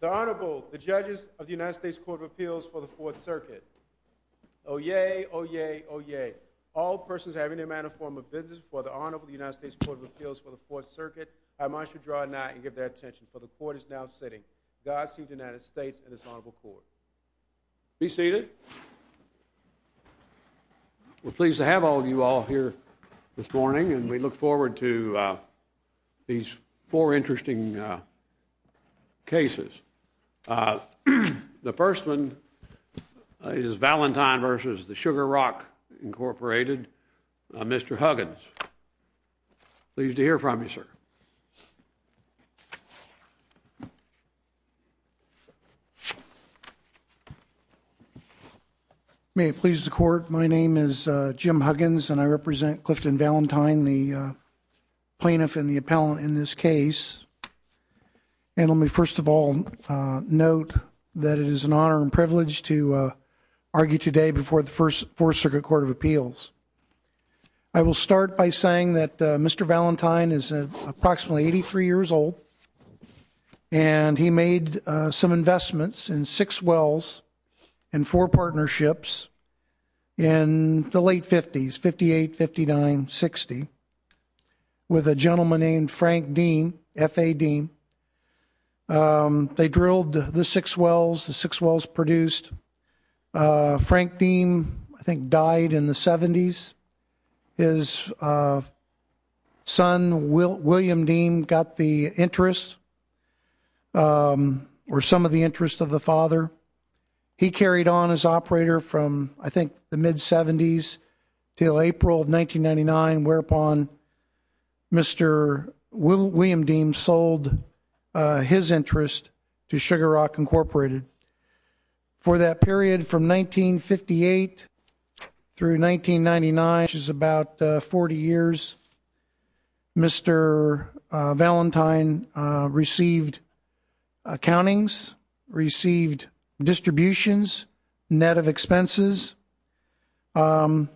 The Honorable, the Judges of the United States Court of Appeals for the Fourth Circuit. Oyez, oyez, oyez. All persons having a manner of form of business before the Honorable United States Court of Appeals for the Fourth Circuit, I must withdraw now and give their attention, for the Court is now sitting. Godspeed to the United States and its Honorable Court. Be seated. We're pleased to have all of you all here this morning, and we look forward to these four interesting cases. The first one is Valentine v. Sugar Rock, Inc., Mr. Huggins. Pleased to hear from you, sir. May it please the Court, my name is Jim Huggins, and I represent Clifton Valentine, the plaintiff and the appellant in this case, and let me first of all note that it is an honor and privilege to argue today before the First Circuit Court of Appeals. I will start by saying that Mr. Valentine is approximately 83 years old, and he made some investments in six wells and four partnerships in the late 50s, 58, 59, 60, with a gentleman named Frank Deem, F.A. Deem. They drilled the six wells, the six wells produced. Frank Deem, I think, died in the 70s. His son, William Deem, got the interest, or some of the interest of the father. He carried on as operator from, I think, the mid-70s until April of 1999, whereupon Mr. William Deem sold his interest to Sugar Rock, Incorporated. For that period, from 1958 through 1999, which is about 40 years, Mr. Valentine received accountings, received distributions, net of expenses, and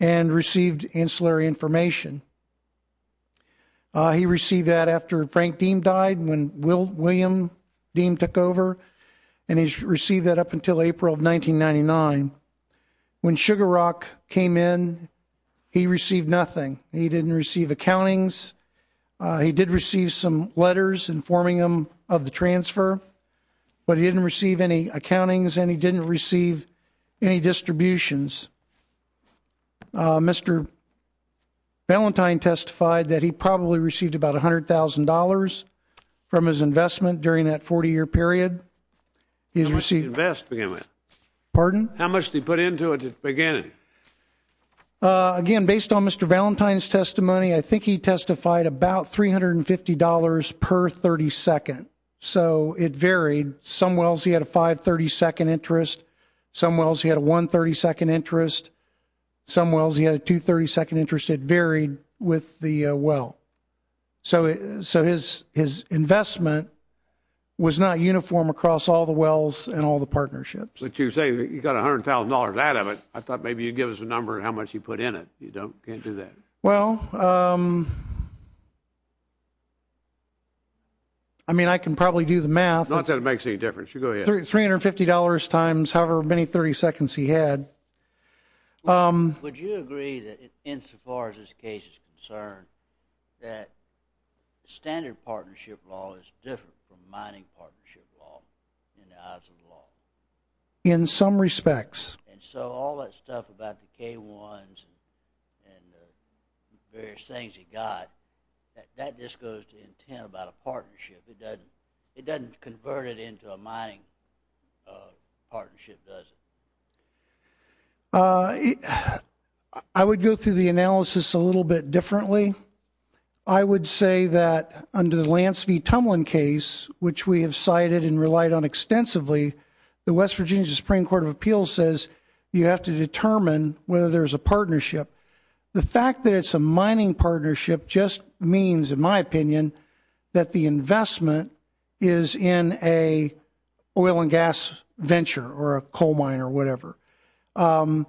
received ancillary information. He received that after Frank Deem died, when William Deem took over, and he received that up until April of 1999. When Sugar Rock came in, he received nothing. He didn't receive accountings. He did receive some letters informing him of the transfer, but he didn't receive any accountings, and he didn't receive any distributions. Mr. Valentine testified that he probably received about $100,000 from his investment during that 40-year period. He has received— How much did he invest beginning with? Pardon? How much did he put into it at the beginning? Again, based on Mr. Valentine's testimony, I think he testified about $350 per 32nd. So it varied. Some wells, he had a 532nd interest. Some wells, he had a 132nd interest. Some wells, he had a 232nd interest. It varied with the well. So his investment was not uniform across all the wells and all the partnerships. But you say that you got $100,000 out of it. I thought maybe you'd give us a number of how much you put in it. You can't do that. Well, I mean, I can probably do the math. Not that it makes any difference. You go ahead. $350 times however many 32nds he had. Would you agree that, insofar as this case is concerned, that standard partnership law is different from mining partnership law in the eyes of the law? In some respects. And so all that stuff about the K1s and the various things he got, that just goes to intent about a partnership. It doesn't convert it into a mining partnership, does it? I would go through the analysis a little bit differently. I would say that, under the Lance v. Tumlin case, which we have cited and relied on extensively, the West Virginia Supreme Court of Appeals says you have to determine whether there's a partnership. The fact that it's a mining partnership just means, in my opinion, that the investment is in an oil and gas venture or a coal mine or whatever. Doesn't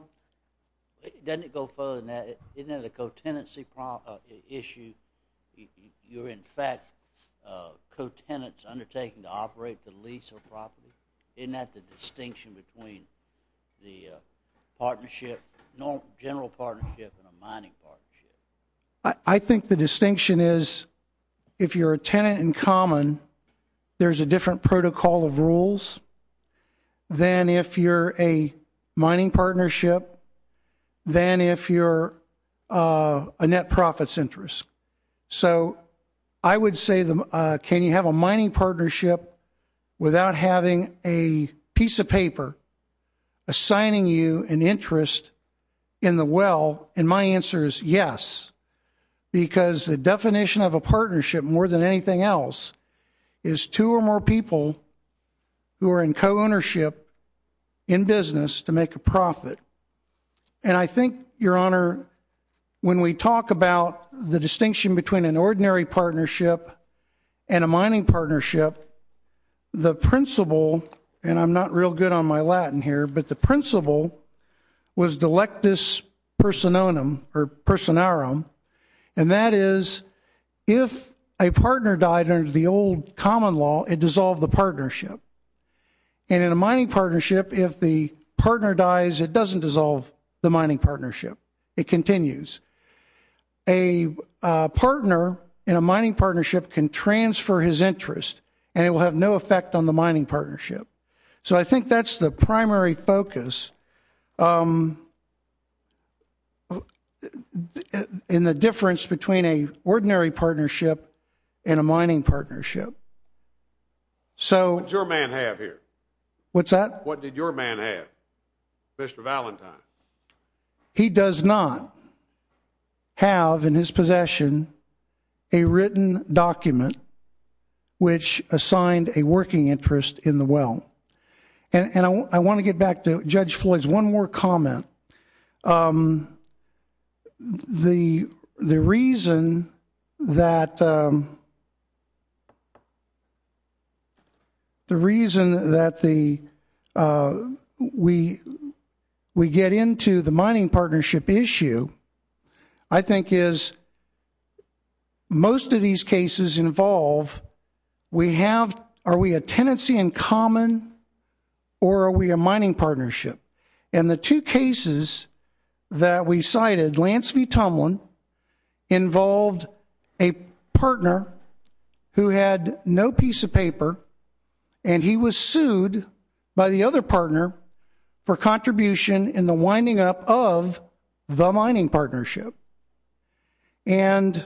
it go further than that? Isn't that a co-tenancy issue? You're, in fact, co-tenants undertaking to operate the lease of a property? Isn't that the distinction between the partnership, general partnership and a mining partnership? I think the distinction is, if you're a tenant in common, there's a different protocol of rules than if you're a mining partnership than if you're a net profits interest. So I would say, can you have a mining partnership without having a piece of paper assigning you an interest in the well? And my answer is yes, because the definition of a partnership, more than anything else, is two or more people who are in co-ownership in business to make a profit. And I think, Your Honor, when we talk about the distinction between an ordinary partnership and a mining partnership, the principle, and I'm not real good on my Latin here, but the principle was delectus persononum, or personarum, and that is, if a partner died under the old common law, it dissolved the partnership, and in a mining partnership, if the partner dies, it doesn't dissolve the mining partnership. It continues. A partner in a mining partnership can transfer his interest, and it will have no effect on the mining partnership. So I think that's the primary focus in the difference between an ordinary partnership and a mining partnership. So- What did your man have here? What's that? What did your man have, Mr. Valentine? He does not have in his possession a written document which assigned a working interest in the well. And I want to get back to Judge Floyd's one more comment. The reason that we get into the mining partnership issue, I think, is most of these cases involve we have, are we a tenancy in common, or are we a mining partnership? And the two cases that we cited, Lance v. Tomlin, involved a partner who had no piece of paper, and he was sued by the other partner for contribution in the winding up of the mining partnership. And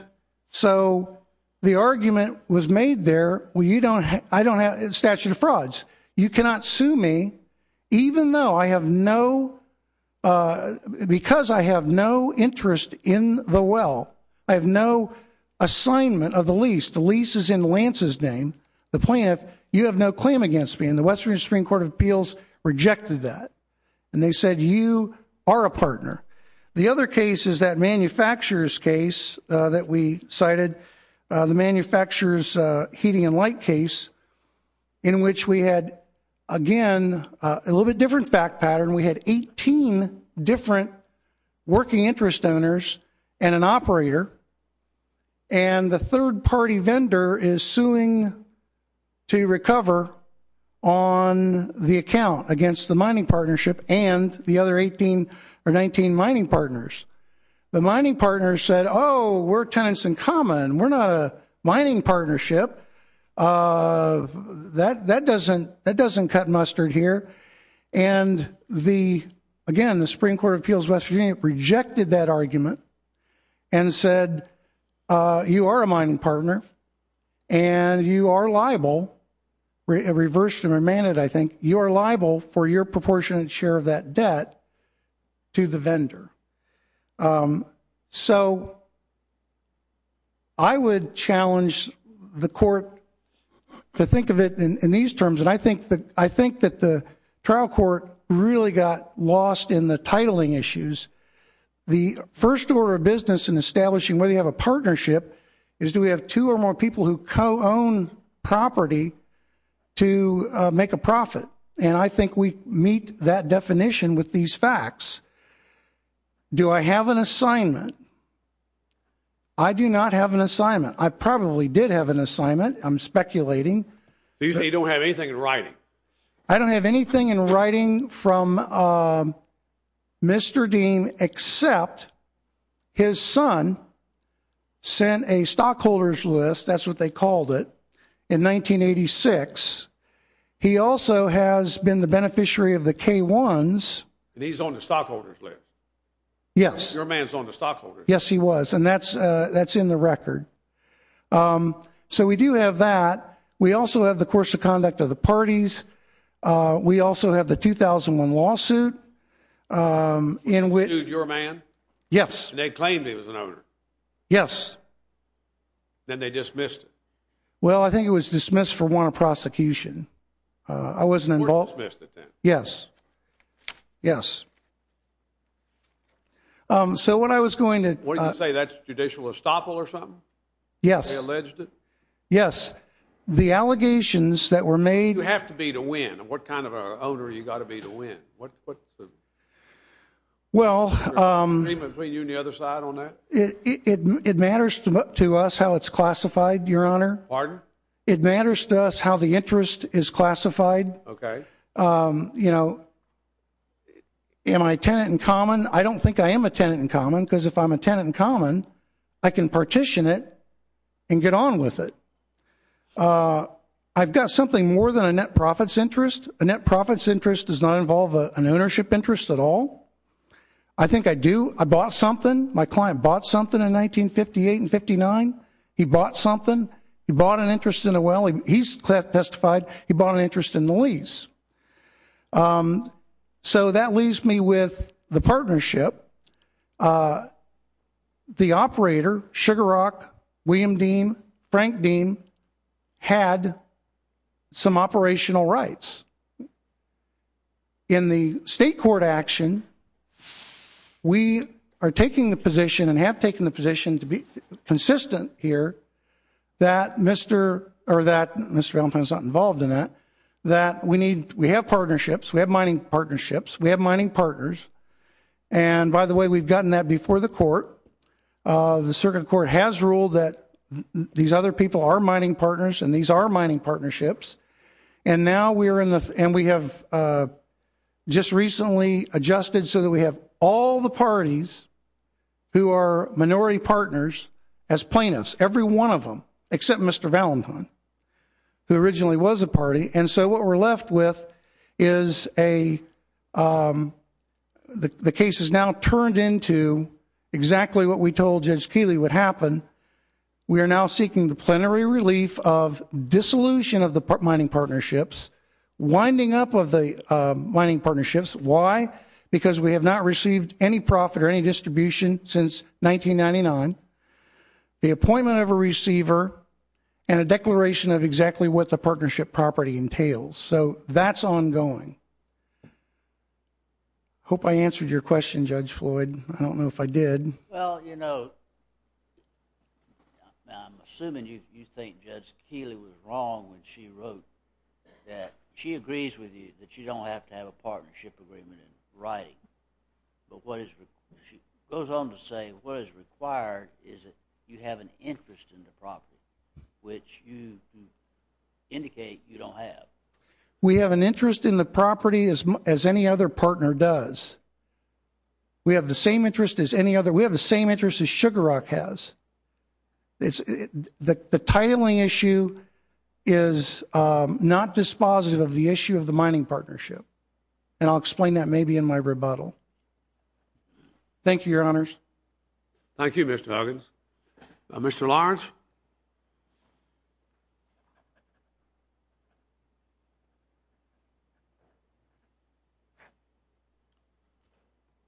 so the argument was made there, well, you don't, I don't have a statute of frauds. You cannot sue me, even though I have no, because I have no interest in the well. I have no assignment of the lease. The lease is in Lance's name. The plaintiff, you have no claim against me, and the West Virginia Supreme Court of Appeals rejected that. And they said, you are a partner. The other case is that manufacturer's case that we cited, the manufacturer's heating and light case, in which we had, again, a little bit different fact pattern. We had 18 different working interest owners and an operator, and the third party vendor is suing to recover on the account against the mining partnership and the other 18 or 19 mining partners. The mining partners said, oh, we're tenants in common. We're not a mining partnership. That doesn't, that doesn't cut mustard here. And the, again, the Supreme Court of Appeals of West Virginia rejected that argument and said you are a mining partner, and you are liable, reversed and remanded, I think, you are liable for your proportionate share of that debt to the vendor. So I would challenge the court to think of it in these terms, and I think that the trial court really got lost in the titling issues. The first order of business in establishing whether you have a partnership is do we have two or more people who co-own property to make a profit, and I think we meet that definition with these facts. Do I have an assignment? I do not have an assignment. I probably did have an assignment. I'm speculating. You don't have anything in writing. I don't have anything in writing from Mr. Dean except his son sent a stockholders list, that's what they called it, in 1986. He also has been the beneficiary of the K-1s. He's on the stockholders list. Yes. Your man's on the stockholders list. Yes, he was, and that's in the record. So we do have that. We also have the course of conduct of the parties. We also have the 2001 lawsuit. In which... Your man? Yes. And they claimed he was an owner? Yes. Then they dismissed it? Well I think it was dismissed for want of prosecution. I wasn't involved. Court dismissed it then? Yes. Yes. So what I was going to... What did you say? That's judicial estoppel or something? Yes. They alleged it? Yes. Yes. The allegations that were made... You have to be to win. What kind of an owner have you got to be to win? Well... Between you and the other side on that? It matters to us how it's classified, Your Honor. Pardon? It matters to us how the interest is classified. Okay. You know, am I a tenant in common? I don't think I am a tenant in common, because if I'm a tenant in common, I can partition it and get on with it. I've got something more than a net profit's interest. A net profit's interest does not involve an ownership interest at all. I think I do. I bought something. My client bought something in 1958 and 59. He bought something. He bought an interest in a well. He's testified he bought an interest in the lease. So that leaves me with the partnership. The operator, Sugar Rock, William Deem, Frank Deem, had some operational rights. In the state court action, we are taking the position and have taken the position to be consistent here that Mr. or that Mr. Allen is not involved in that, that we need... We have partnerships. We have mining partnerships. We have mining partners. And by the way, we've gotten that before the court. The circuit court has ruled that these other people are mining partners and these are mining partnerships. And now we're in the... and we have just recently adjusted so that we have all the parties who are minority partners as plaintiffs, every one of them, except Mr. Valentine, who originally was a party. And so what we're left with is a... The case is now turned into exactly what we told Judge Keeley would happen. We are now seeking the plenary relief of dissolution of the mining partnerships, winding up of the mining partnerships. Why? Because we have not received any profit or any distribution since 1999. The appointment of a receiver and a declaration of exactly what the partnership property entails. So that's ongoing. Hope I answered your question, Judge Floyd. I don't know if I did. Well, you know, now I'm assuming you think Judge Keeley was wrong when she wrote that... She agrees with you that you don't have to have a partnership agreement in writing. But what is... She goes on to say what is required is that you have an interest in the property, which you indicate you don't have. We have an interest in the property as any other partner does. We have the same interest as any other... We have the same interest as Sugar Rock has. The titling issue is not dispositive of the issue of the mining partnership. And I'll explain that maybe in my rebuttal. Thank you, Your Honors. Thank you, Mr. Huggins. Mr. Lawrence.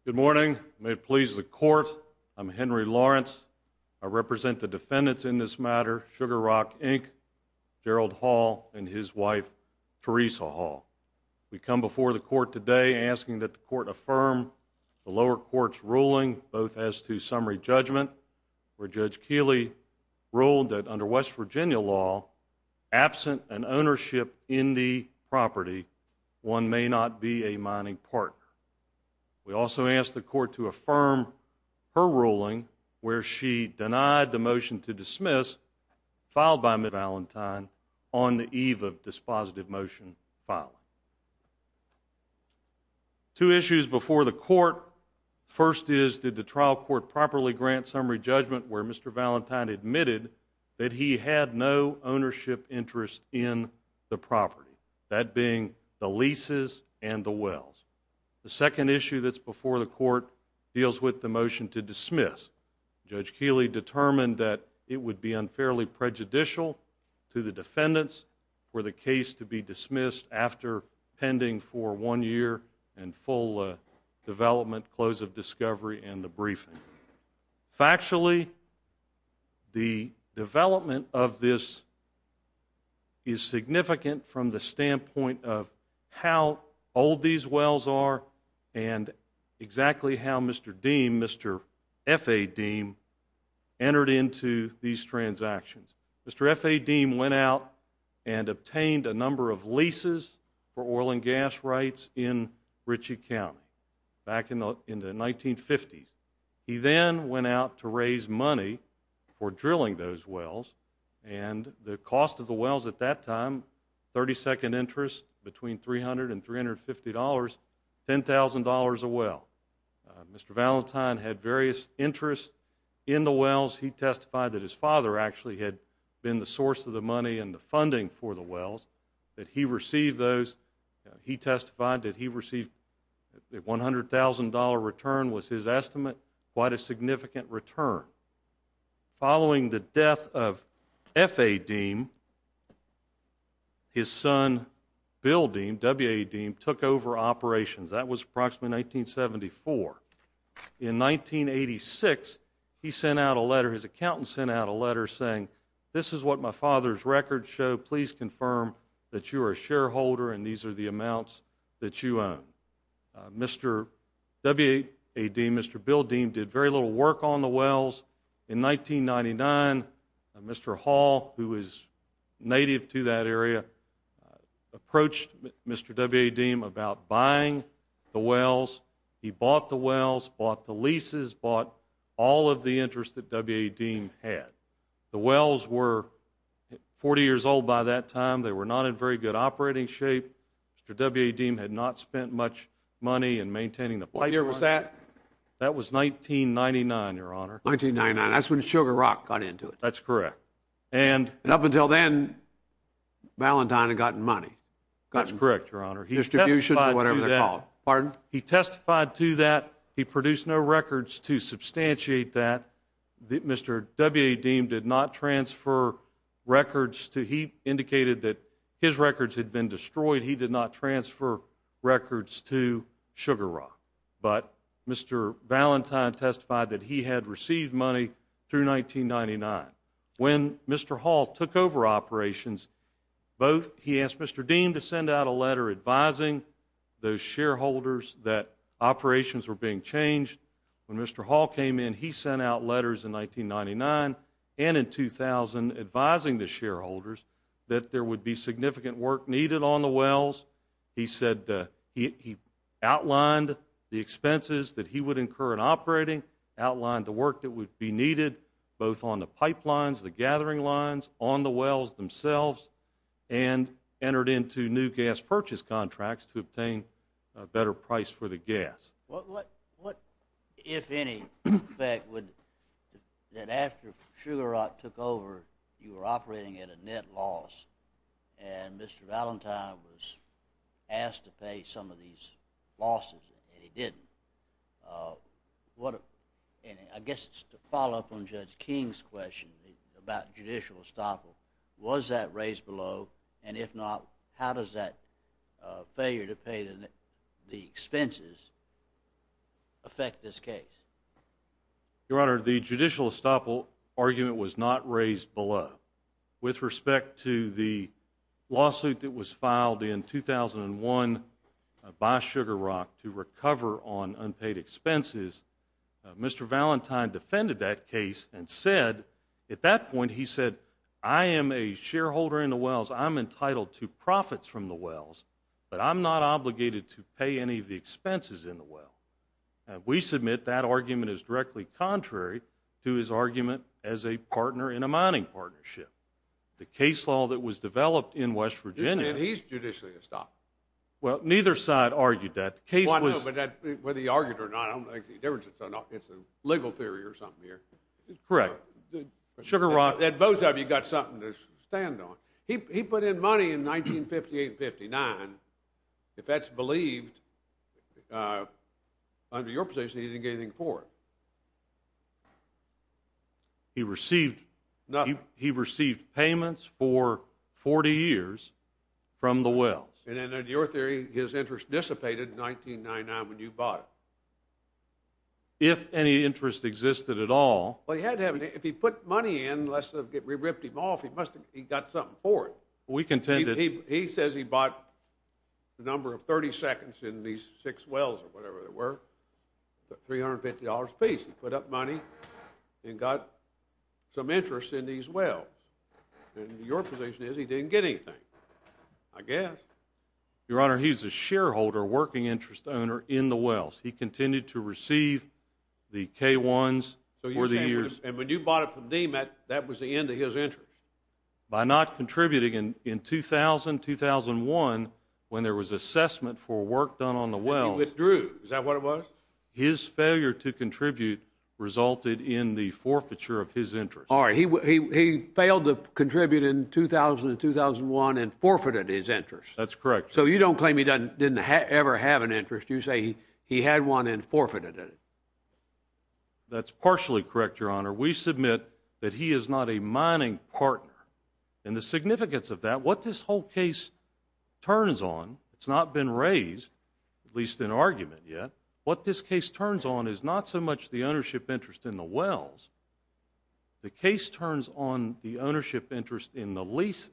Good morning. May it please the Court, I'm Henry Lawrence. I represent the defendants in this matter, Sugar Rock Inc., Gerald Hall, and his wife, Teresa Hall. We come before the Court today asking that the Court affirm the lower court's ruling both as to summary judgment, where Judge Keeley ruled that under West Virginia law, absent an ownership in the property, one may not be a mining partner. We also ask the Court to affirm her ruling where she denied the motion to dismiss filed by Mr. Valentine on the eve of dispositive motion filing. Two issues before the Court. First is, did the trial court properly grant summary judgment where Mr. Valentine admitted that he had no ownership interest in the property, that being the leases and the wells? The second issue that's before the Court deals with the motion to dismiss. Judge Keeley determined that it would be unfairly prejudicial to the defendants for the case to be dismissed after pending for one year and full development, close of discovery, and the briefing. Factually, the development of this is significant from the standpoint of how old these wells are and exactly how Mr. Deem, Mr. F.A. Deem, entered into these transactions. Mr. F.A. Deem went out and obtained a number of leases for oil and gas rights in Ritchie County back in the 1950s. He then went out to raise money for drilling those wells, and the cost of the wells at that time, 32nd interest, between $300 and $350, $10,000 a well. Mr. Valentine had various interests in the wells. He testified that his father actually had been the source of the money and the funding for the wells, that he received those. He testified that he received a $100,000 return was his estimate, quite a significant return. However, following the death of F.A. Deem, his son, Bill Deem, W.A. Deem, took over operations. That was approximately 1974. In 1986, he sent out a letter, his accountant sent out a letter saying, this is what my father's records show. Please confirm that you are a shareholder and these are the amounts that you own. Mr. W.A. Deem, Mr. Bill Deem, did very little work on the wells. In 1999, Mr. Hall, who was native to that area, approached Mr. W.A. Deem about buying the wells. He bought the wells, bought the leases, bought all of the interest that W.A. Deem had. The wells were 40 years old by that time. They were not in very good operating shape. Mr. W.A. Deem had not spent much money in maintaining the pipeline. What year was that? That was 1999, your honor. 1999. That's when Sugar Rock got into it. That's correct. And... And up until then, Ballantyne had gotten money, gotten distribution or whatever they're called. Pardon? He testified to that. He produced no records to substantiate that. Mr. W.A. Deem did not transfer records to... He indicated that his records had been destroyed. He did not transfer records to Sugar Rock. But Mr. Ballantyne testified that he had received money through 1999. When Mr. Hall took over operations, both he asked Mr. Deem to send out a letter advising those shareholders that operations were being changed. When Mr. Hall came in, he sent out letters in 1999 and in 2000 advising the shareholders that there would be significant work needed on the wells. He said that he outlined the expenses that he would incur in operating, outlined the work that would be needed both on the pipelines, the gathering lines, on the wells themselves, and entered into new gas purchase contracts to obtain a better price for the gas. What, if any, effect would that after Sugar Rock took over, you were operating at a net loss, and Mr. Ballantyne was asked to pay some of these losses, and he didn't. I guess to follow up on Judge King's question about judicial estoppel, was that raised below? And if not, how does that failure to pay the expenses affect this case? Your Honor, the judicial estoppel argument was not raised below. With respect to the lawsuit that was filed in 2001 by Sugar Rock to recover on unpaid expenses, Mr. Ballantyne defended that case and said, at that point he said, I am a shareholder in the wells. I'm entitled to profits from the wells, but I'm not obligated to pay any of the expenses in the well. We submit that argument is directly contrary to his argument as a partner in a mining partnership. The case law that was developed in West Virginia— He's judicially estoppel. Well, neither side argued that. The case was— Well, I know, but whether he argued it or not, I don't think the differences are enough. It's a legal theory or something here. Correct. Sugar Rock— Well, both of you got something to stand on. He put in money in 1958 and 59. If that's believed, under your position, he didn't get anything for it. He received— Nothing. He received payments for 40 years from the wells. And in your theory, his interest dissipated in 1999 when you bought it. If any interest existed at all— Well, he had to have— If he put money in, unless we ripped him off, he must have—he got something for it. We contend that— He says he bought the number of 30 seconds in these six wells, or whatever they were, $350 apiece. He put up money and got some interest in these wells. And your position is he didn't get anything, I guess. Your Honor, he's a shareholder, working interest owner, in the wells. He continued to receive the K-1s for the years— So you're saying, when you bought it from Demat, that was the end of his interest? By not contributing, in 2000, 2001, when there was assessment for work done on the wells— And he withdrew. Is that what it was? His failure to contribute resulted in the forfeiture of his interest. All right. He failed to contribute in 2000 and 2001 and forfeited his interest. That's correct. So you don't claim he didn't ever have an interest. You say he had one and forfeited it. That's partially correct, Your Honor. We submit that he is not a mining partner. And the significance of that, what this whole case turns on—it's not been raised, at least in argument yet—what this case turns on is not so much the ownership interest in the wells. The case turns on the ownership interest in the leases.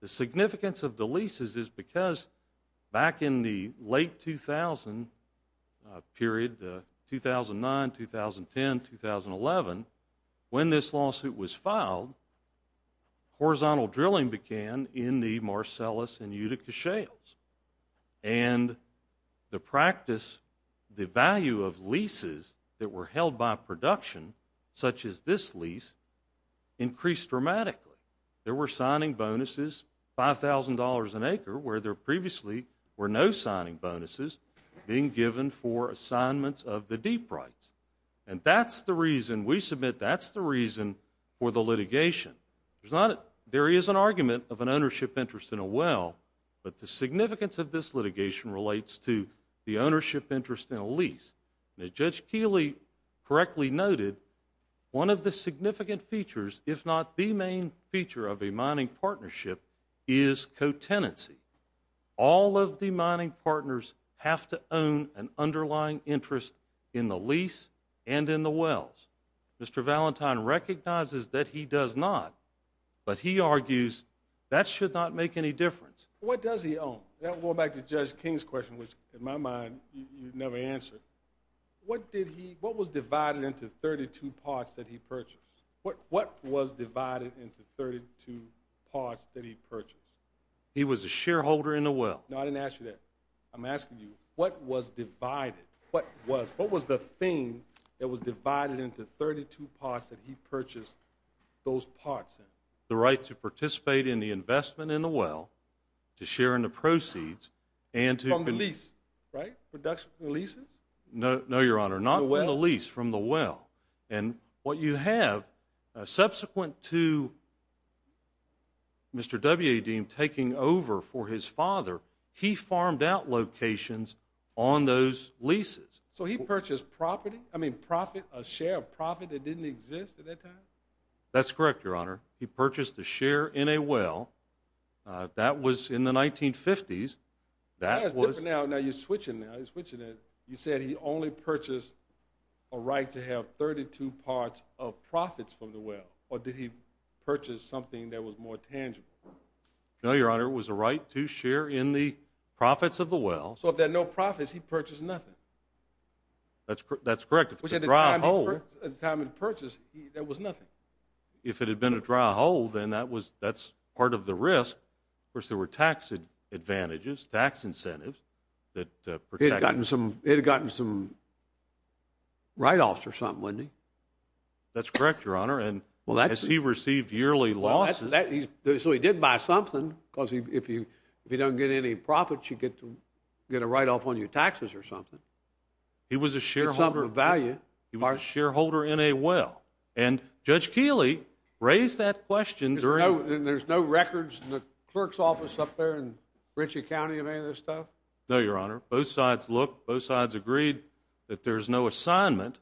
The significance of the leases is because back in the late 2000 period—2009, 2010, 2011—when this lawsuit was filed, horizontal drilling began in the Marcellus and Utica shales. And the practice, the value of leases that were held by production, such as this lease, increased dramatically. There were signing bonuses, $5,000 an acre, where there previously were no signing bonuses being given for assignments of the deep rights. And that's the reason—we submit that's the reason for the litigation. There is an argument of an ownership interest in a well, but the significance of this litigation relates to the ownership interest in a lease. As Judge Keeley correctly noted, one of the significant features, if not the main feature of a mining partnership, is co-tenancy. All of the mining partners have to own an underlying interest in the lease and in the wells. Mr. Valentine recognizes that he does not, but he argues that should not make any difference. What does he own? Going back to Judge King's question, which, in my mind, you never answered, what did he—what was divided into 32 parts that he purchased? What was divided into 32 parts that he purchased? He was a shareholder in the well. No, I didn't ask you that. I'm asking you, what was divided? What was the thing that was divided into 32 parts that he purchased those parts in? The right to participate in the investment in the well, to share in the proceeds, and to— From the lease, right? Production of the leases? No, Your Honor. Not from the lease, from the well. And what you have, subsequent to Mr. W. Adim taking over for his father, he farmed out locations on those leases. So he purchased property? I mean, profit, a share of profit that didn't exist at that time? That's correct, Your Honor. He purchased a share in a well. That was in the 1950s. That was— That's different now. Now, you're switching now. You're switching it. You said he only purchased a right to have 32 parts of profits from the well, or did he purchase something that was more tangible? No, Your Honor. It was a right to share in the profits of the well. So if there are no profits, he purchased nothing? That's correct. If it's a dry hole— At the time of the purchase, there was nothing? If it had been a dry hole, then that's part of the risk. Of course, there were tax advantages, tax incentives that protected— He'd have gotten some write-offs or something, wouldn't he? That's correct, Your Honor. And as he received yearly losses— So he did buy something, because if you don't get any profits, you get a write-off on your taxes or something. He was a shareholder— It's something of value. He was a shareholder in a well. And Judge Keeley raised that question during— And there's no records in the clerk's office up there in Richey County of any of this stuff? No, Your Honor. Both sides looked. Both sides agreed that there's no assignment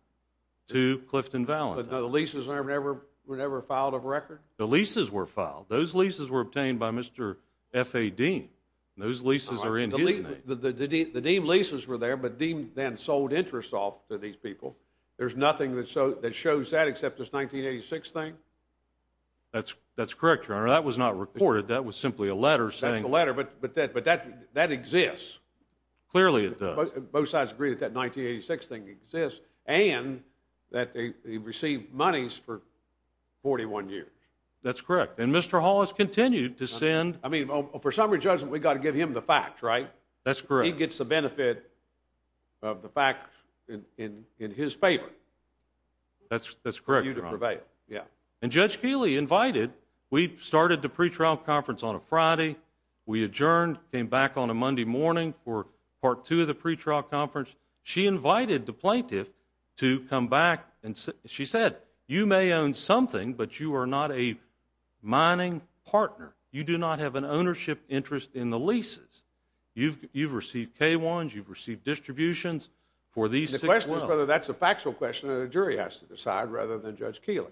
to Clifton Valentine. But the leases were never filed of record? The leases were filed. Those leases were obtained by Mr. F.A. Deem. Those leases are in his name. The Deem leases were there, but Deem then sold interests off to these people. There's nothing that shows that except this 1986 thing? That's correct, Your Honor. That was not recorded. That was simply a letter saying— That's the letter. But that exists. Clearly, it does. Both sides agreed that that 1986 thing exists, and that he received monies for 41 years. That's correct. And Mr. Hall has continued to send— I mean, for summary judgment, we've got to give him the fact, right? That's correct. That he gets the benefit of the fact in his favor. That's correct, Your Honor. For you to prevail. Yeah. And Judge Keeley invited—we started the pretrial conference on a Friday. We adjourned, came back on a Monday morning for part two of the pretrial conference. She invited the plaintiff to come back, and she said, you may own something, but you are not a mining partner. You do not have an ownership interest in the leases. You've received K-1s, you've received distributions for these six months. And the question is whether that's a factual question that a jury has to decide rather than Judge Keeley.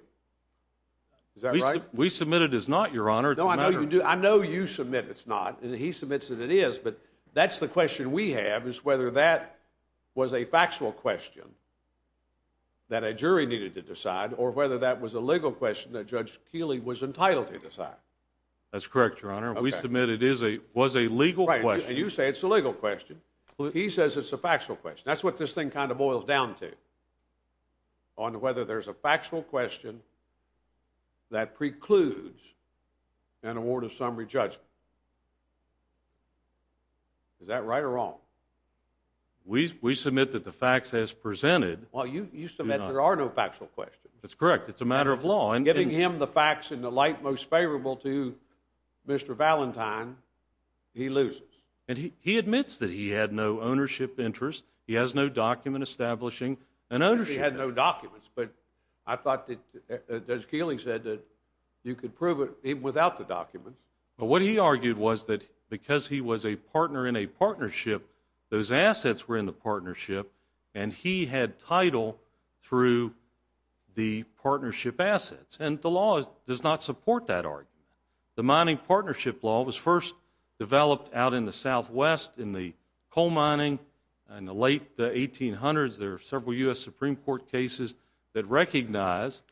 Is that right? We submit it as not, Your Honor. It's a matter of— No, I know you do. I know you submit it's not, and he submits that it is, but that's the question we have is whether that was a factual question that a jury needed to decide or whether that was a legal question that Judge Keeley was entitled to decide. That's correct, Your Honor. Okay. We submit it is a—was a legal question. Right. And you say it's a legal question. He says it's a factual question. That's what this thing kind of boils down to, on whether there's a factual question that precludes an award of summary judgment. Is that right or wrong? We submit that the facts as presented— Well, you submit there are no factual questions. That's correct. It's a matter of law. And giving him the facts in the light most favorable to Mr. Valentine, he loses. And he admits that he had no ownership interest. He has no document establishing an ownership— He had no documents, but I thought that Judge Keeley said that you could prove it even without the documents. But what he argued was that because he was a partner in a partnership, those assets were in the partnership, and he had title through the partnership assets. And the law does not support that argument. The mining partnership law was first developed out in the Southwest in the coal mining in the late 1800s. There are several U.S. Supreme Court cases that recognize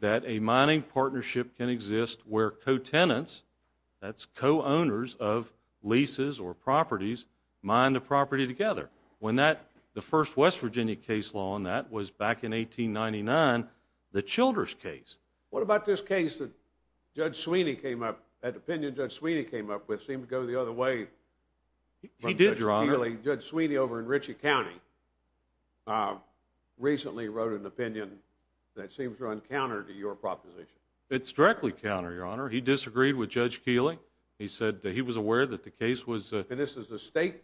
that a mining partnership can exist where co-tenants—that's co-owners of leases or properties—mine the property together. When that—the first West Virginia case law on that was back in 1899, the Childers case. What about this case that Judge Sweeney came up—that opinion Judge Sweeney came up with seemed to go the other way from Judge Keeley? He did, Your Honor. Judge Sweeney over in Ritchie County recently wrote an opinion that seems to run counter to your proposition. It's directly counter, Your Honor. He disagreed with Judge Keeley. He said that he was aware that the case was— and this is a state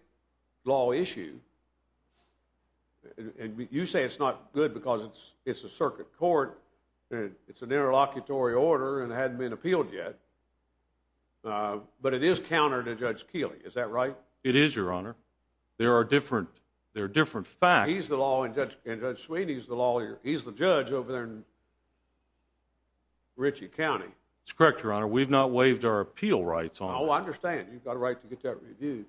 law issue—and you say it's not good because it's a circuit court and it's an interlocutory order and it hadn't been appealed yet. But it is counter to Judge Keeley. Is that right? It is, Your Honor. There are different facts. He's the law and Judge Sweeney's the law. He's the judge over there in Ritchie County. That's correct, Your Honor. We've not waived our appeal rights on it. Oh, I understand. You've got a right to get that reviewed.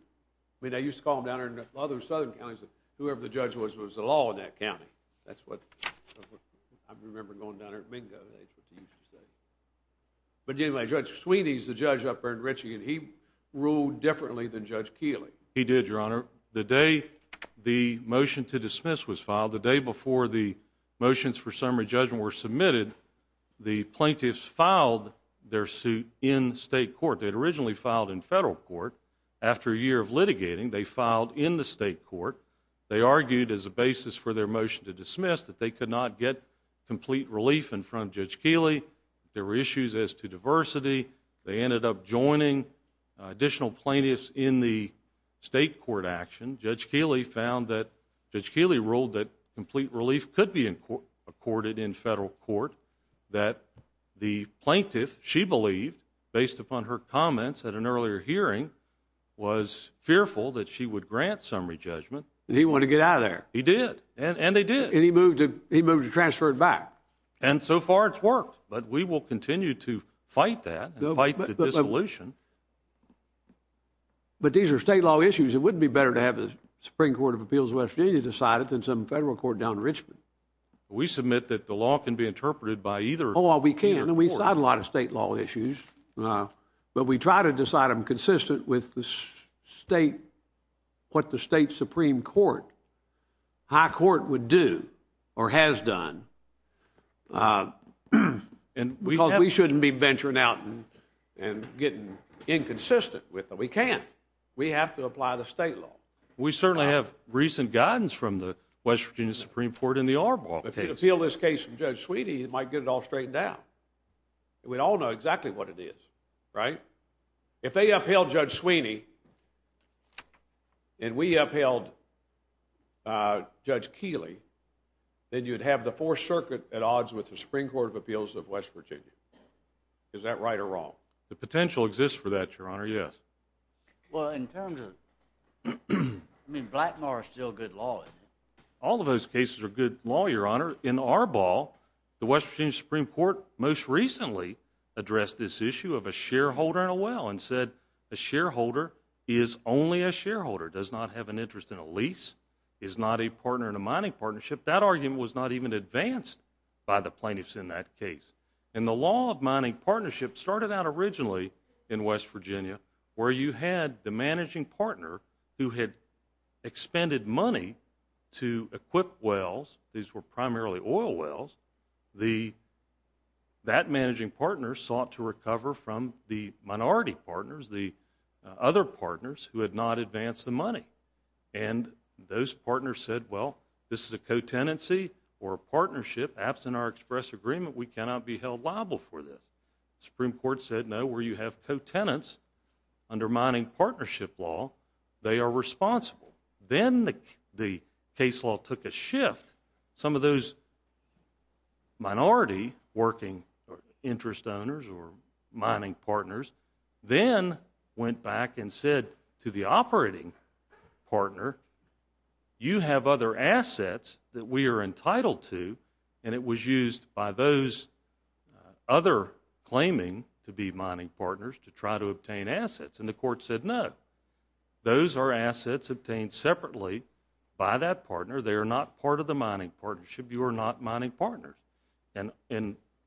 I mean, I used to call them down there in a lot of those southern counties that whoever the judge was was the law in that county. That's what I remember going down there at Mingo, that's what they used to say. But anyway, Judge Sweeney's the judge up there in Ritchie and he ruled differently than Judge Keeley. He did, Your Honor. The day the motion to dismiss was filed, the day before the motions for summary judgment were submitted, the plaintiffs filed their suit in state court. They'd originally filed in federal court. After a year of litigating, they filed in the state court. They argued as a basis for their motion to dismiss that they could not get complete relief in front of Judge Keeley. There were issues as to diversity. They ended up joining additional plaintiffs in the state court action. Judge Keeley ruled that complete relief could be accorded in federal court, that the plaintiff, she believed, based upon her comments at an earlier hearing, was fearful that she would grant summary judgment. He wanted to get out of there. He did. And they did. And he moved to transfer it back. And so far it's worked. But we will continue to fight that and fight the dissolution. But these are state law issues. It wouldn't be better to have the Supreme Court of Appeals of West Virginia decide it than some federal court down in Richmond. We submit that the law can be interpreted by either court. Oh, well, we can. And we've had a lot of state law issues. But we try to decide them consistent with the state, what the state Supreme Court, high court, would do or has done because we shouldn't be venturing out and getting inconsistent with them. We can't. We have to apply the state law. We certainly have recent guidance from the West Virginia Supreme Court in the Arbol case. If we could appeal this case to Judge Sweeney, it might get it all straightened out. We'd all know exactly what it is, right? If they upheld Judge Sweeney and we upheld Judge Keeley, then you'd have the Fourth Circuit at odds with the Supreme Court of Appeals of West Virginia. Is that right or wrong? The potential exists for that, Your Honor, yes. Well, in terms of, I mean, Blackmore is still good law, isn't it? All of those cases are good law, Your Honor. In Arbol, the West Virginia Supreme Court most recently addressed this issue of a shareholder in a well and said a shareholder is only a shareholder, does not have an interest in a lease, is not a partner in a mining partnership. That argument was not even advanced by the plaintiffs in that case. And the law of mining partnership started out originally in West Virginia where you had the managing partner who had expended money to equip wells, these were primarily oil wells. That managing partner sought to recover from the minority partners, the other partners who had not advanced the money. And those partners said, well, this is a co-tenancy or a partnership, absent our express agreement, we cannot be held liable for this. Supreme Court said, no, where you have co-tenants under mining partnership law, they are responsible. Then the case law took a shift. Some of those minority working interest owners or mining partners then went back and said to the operating partner, you have other assets that we are entitled to and it was used by those other claiming to be mining partners to try to obtain assets. And the court said, no, those are assets obtained separately by that partner, they are not part of the mining partnership, you are not mining partners. And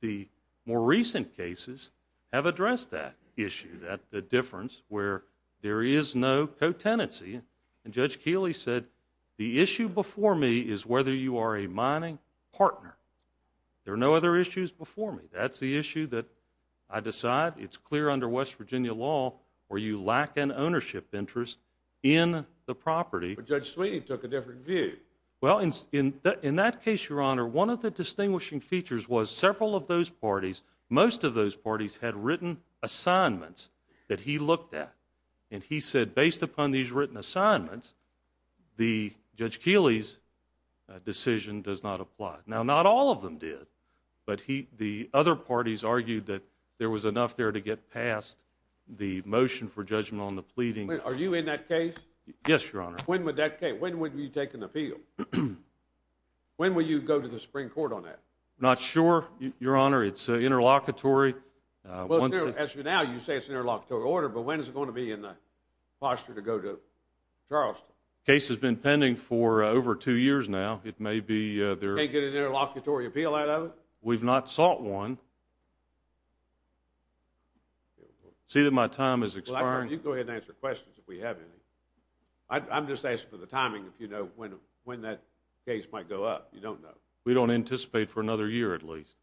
the more recent cases have addressed that issue, that difference where there is no co-tenancy. And Judge Keeley said, the issue before me is whether you are a mining partner. There are no other issues before me. That's the issue that I decide. It's clear under West Virginia law where you lack an ownership interest in the property. But Judge Sweeney took a different view. Well, in that case, Your Honor, one of the distinguishing features was several of those parties, most of those parties had written assignments that he looked at. And he said, based upon these written assignments, Judge Keeley's decision does not apply. Now, not all of them did. But the other parties argued that there was enough there to get past the motion for judgment on the pleading. Are you in that case? Yes, Your Honor. When would that case, when would you take an appeal? When will you go to the Supreme Court on that? Not sure, Your Honor. It's interlocutory. Well, as of now, you say it's an interlocutory order, but when is it going to be in the posture to go to Charleston? The case has been pending for over two years now. It may be... You can't get an interlocutory appeal out of it? We've not sought one. See that my time is expiring. Well, actually, you can go ahead and answer questions if we have any. I'm just asking for the timing, if you know when that case might go up. You don't know. We don't anticipate for another year, at least.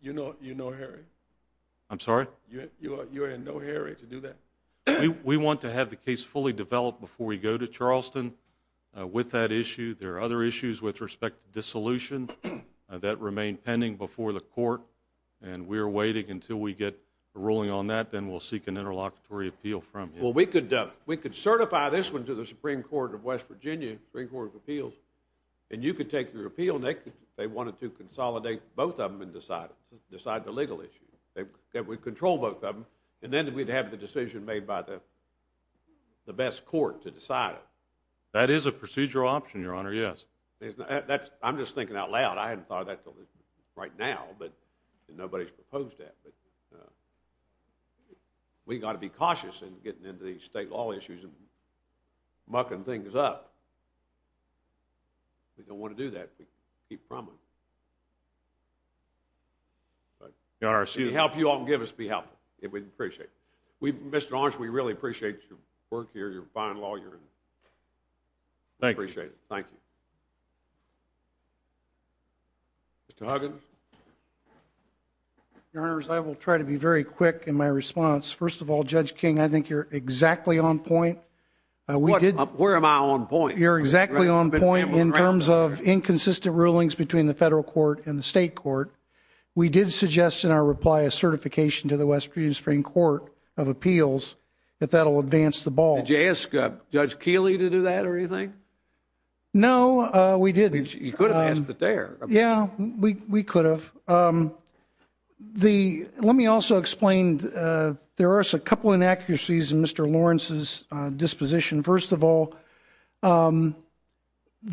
You know Harry? I'm sorry? You know Harry to do that? We want to have the case fully developed before we go to Charleston with that issue. There are other issues with respect to dissolution that remain pending before the court, and we're waiting until we get a ruling on that, then we'll seek an interlocutory appeal from you. Well, we could certify this one to the Supreme Court of West Virginia, Supreme Court of Appeals, and you could take your appeal, and they wanted to consolidate both of them and decide the legal issue. They would control both of them, and then we'd have the decision made by the best court to decide it. That is a procedural option, Your Honor, yes. I'm just thinking out loud. I hadn't thought of that right now, but nobody's proposed that. We've got to be cautious in getting into these state law issues and mucking things up. We don't want to do that, but we can keep from it. Your Honor, excuse me. Help you all and give us behalf, we'd appreciate it. Mr. Arnsh, we really appreciate your work here, your fine lawyering. Thank you. We appreciate it. Thank you. Mr. Huggins? Your Honors, I will try to be very quick in my response. First of all, Judge King, I think you're exactly on point. Where am I on point? You're exactly on point in terms of inconsistent rulings between the federal court and the state court. We did suggest in our reply a certification to the West Virginia Supreme Court of Appeals if that will advance the ball. Did you ask Judge Keeley to do that or anything? No, we didn't. You could have asked it there. We could have. Let me also explain, there are a couple inaccuracies in Mr. Lawrence's disposition. First of all,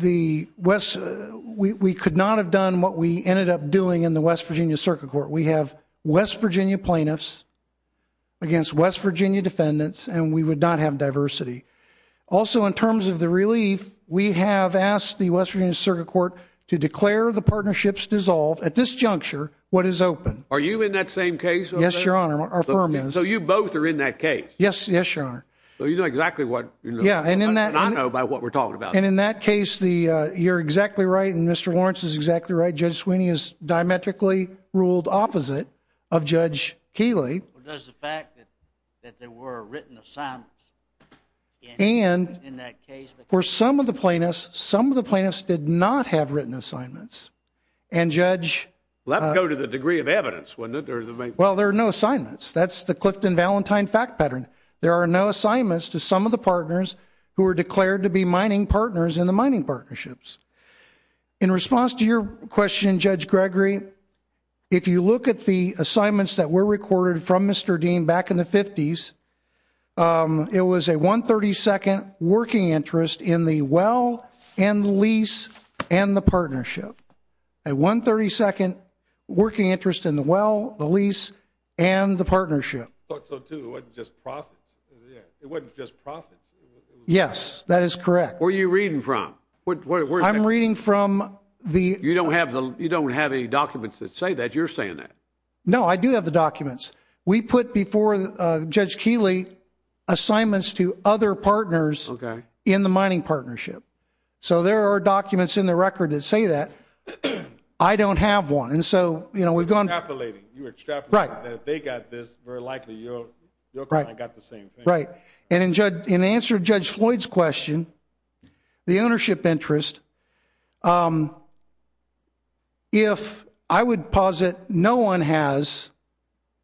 we could not have done what we ended up doing in the West Virginia Circuit Court. We have West Virginia plaintiffs against West Virginia defendants and we would not have diversity. Also, in terms of the relief, we have asked the West Virginia Circuit Court to declare the partnerships dissolved at this juncture what is open. Are you in that same case? Yes, Your Honor. Our firm is. So you both are in that case? Yes, Your Honor. So you know exactly what you're talking about. I do not know what we're talking about. And in that case, you're exactly right and Mr. Lawrence is exactly right, Judge Sweeney is diametrically ruled opposite of Judge Keeley. Well, there's the fact that there were written assignments in that case. For some of the plaintiffs, some of the plaintiffs did not have written assignments. And Judge... Well, that would go to the degree of evidence, wouldn't it? Well, there are no assignments. That's the Clifton-Valentine fact pattern. There are no assignments to some of the partners who are declared to be mining partners in the mining partnerships. In response to your question, Judge Gregory, if you look at the assignments that were recorded from Mr. Dean back in the 50s, it was a 132nd working interest in the well and the lease and the partnership, a 132nd working interest in the well, the lease and the partnership. I thought so too. It wasn't just profits. Yeah. It wasn't just profits. Yes. That is correct. Where are you reading from? I'm reading from the... You don't have any documents that say that. You're saying that. No, I do have the documents. We put before Judge Keeley assignments to other partners in the mining partnership. So there are documents in the record that say that. I don't have one. And so, you know, we've gone... Extrapolating. You're extrapolating. Right. You're saying that if they got this, very likely your client got the same thing. Right. And in answer to Judge Floyd's question, the ownership interest, if I would posit no one has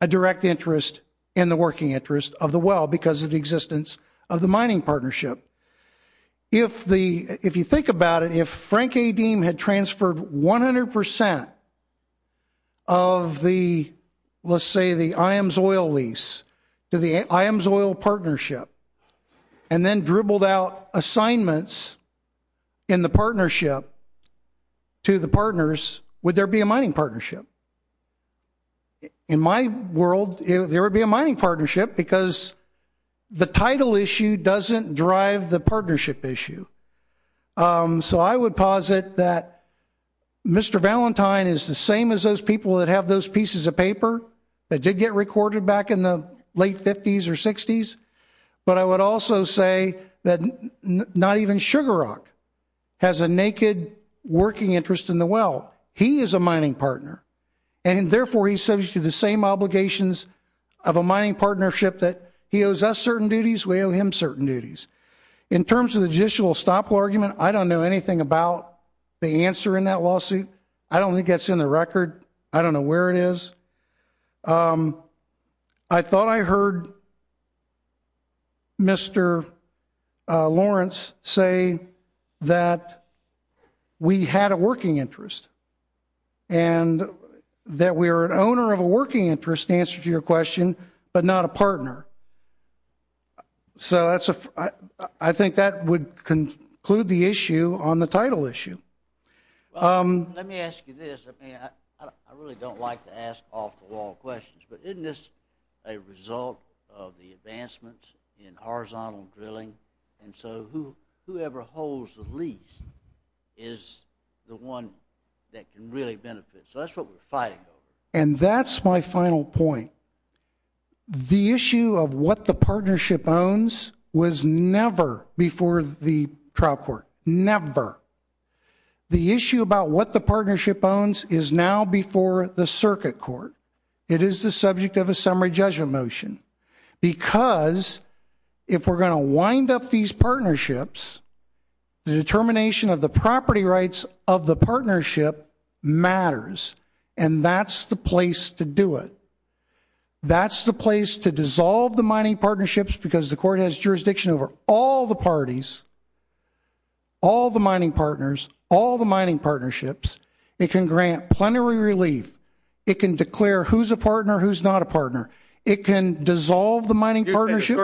a direct interest in the working interest of the well because of the existence of the mining partnership. If you think about it, if Frank A. Deem had transferred 100% of the, let's say the Iams Oil lease to the Iams Oil partnership and then dribbled out assignments in the partnership to the partners, would there be a mining partnership? In my world, there would be a mining partnership because the title issue doesn't drive the partnership issue. So I would posit that Mr. Valentine is the same as those people that have those pieces of paper that did get recorded back in the late 50s or 60s. But I would also say that not even Sugar Rock has a naked working interest in the well. He is a mining partner and therefore he's subject to the same obligations of a mining partnership that he owes us certain duties, we owe him certain duties. In terms of the judicial estoppel argument, I don't know anything about the answer in that lawsuit. I don't think that's in the record. I don't know where it is. I thought I heard Mr. Lawrence say that we had a working interest and that we are an owner of a working interest, to answer to your question, but not a partner. So I think that would conclude the issue on the title issue. Let me ask you this, I really don't like to ask off-the-wall questions, but isn't this a result of the advancements in horizontal drilling, and so whoever holds the lease is the one that can really benefit, so that's what we're fighting over. And that's my final point. The issue of what the partnership owns was never before the trial court, never. The issue about what the partnership owns is now before the circuit court. It is the subject of a summary judgment motion, because if we're going to wind up these partnerships, the determination of the property rights of the partnership matters, and that's the place to do it. That's the place to dissolve the mining partnerships, because the court has jurisdiction over all the parties, all the mining partners, all the mining partnerships. It can grant plenary relief. It can declare who's a partner, who's not a partner. It can dissolve the mining partnership.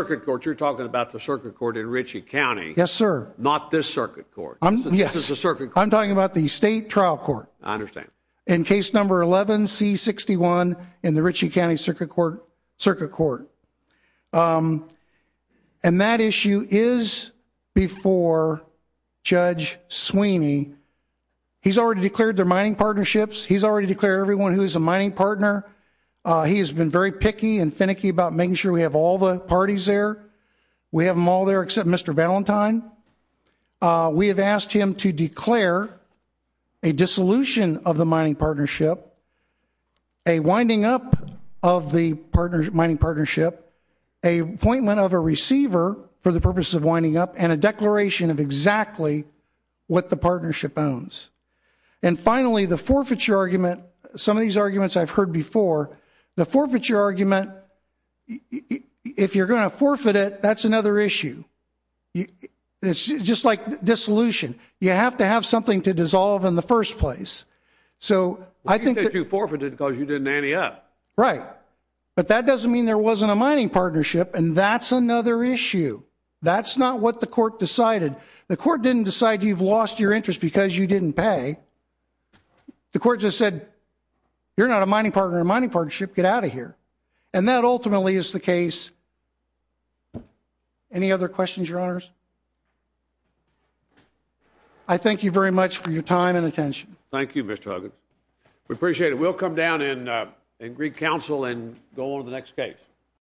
You're talking about the circuit court in Ritchie County. Yes sir. Not this circuit court. Yes. This is the circuit court. I'm talking about the state trial court. I understand. In case number 11C61 in the Ritchie County Circuit Court. And that issue is before Judge Sweeney. He's already declared their mining partnerships. He's already declared everyone who is a mining partner. He has been very picky and finicky about making sure we have all the parties there. We have them all there except Mr. Valentine. We have asked him to declare a dissolution of the mining partnership, a winding up of the mining partnership, a appointment of a receiver for the purposes of winding up, and a declaration of exactly what the partnership owns. And finally, the forfeiture argument, some of these arguments I've heard before, the forfeiture argument, if you're going to forfeit it, that's another issue. It's just like dissolution. You have to have something to dissolve in the first place. So I think that you forfeited because you didn't ante up. Right. But that doesn't mean there wasn't a mining partnership and that's another issue. That's not what the court decided. The court didn't decide you've lost your interest because you didn't pay. The court just said, you're not a mining partner in a mining partnership, get out of here. And that ultimately is the case. Any other questions, your honors? I thank you very much for your time and attention. Thank you, Mr. Huggins. We appreciate it. We'll come down in Greek Council and go on to the next case.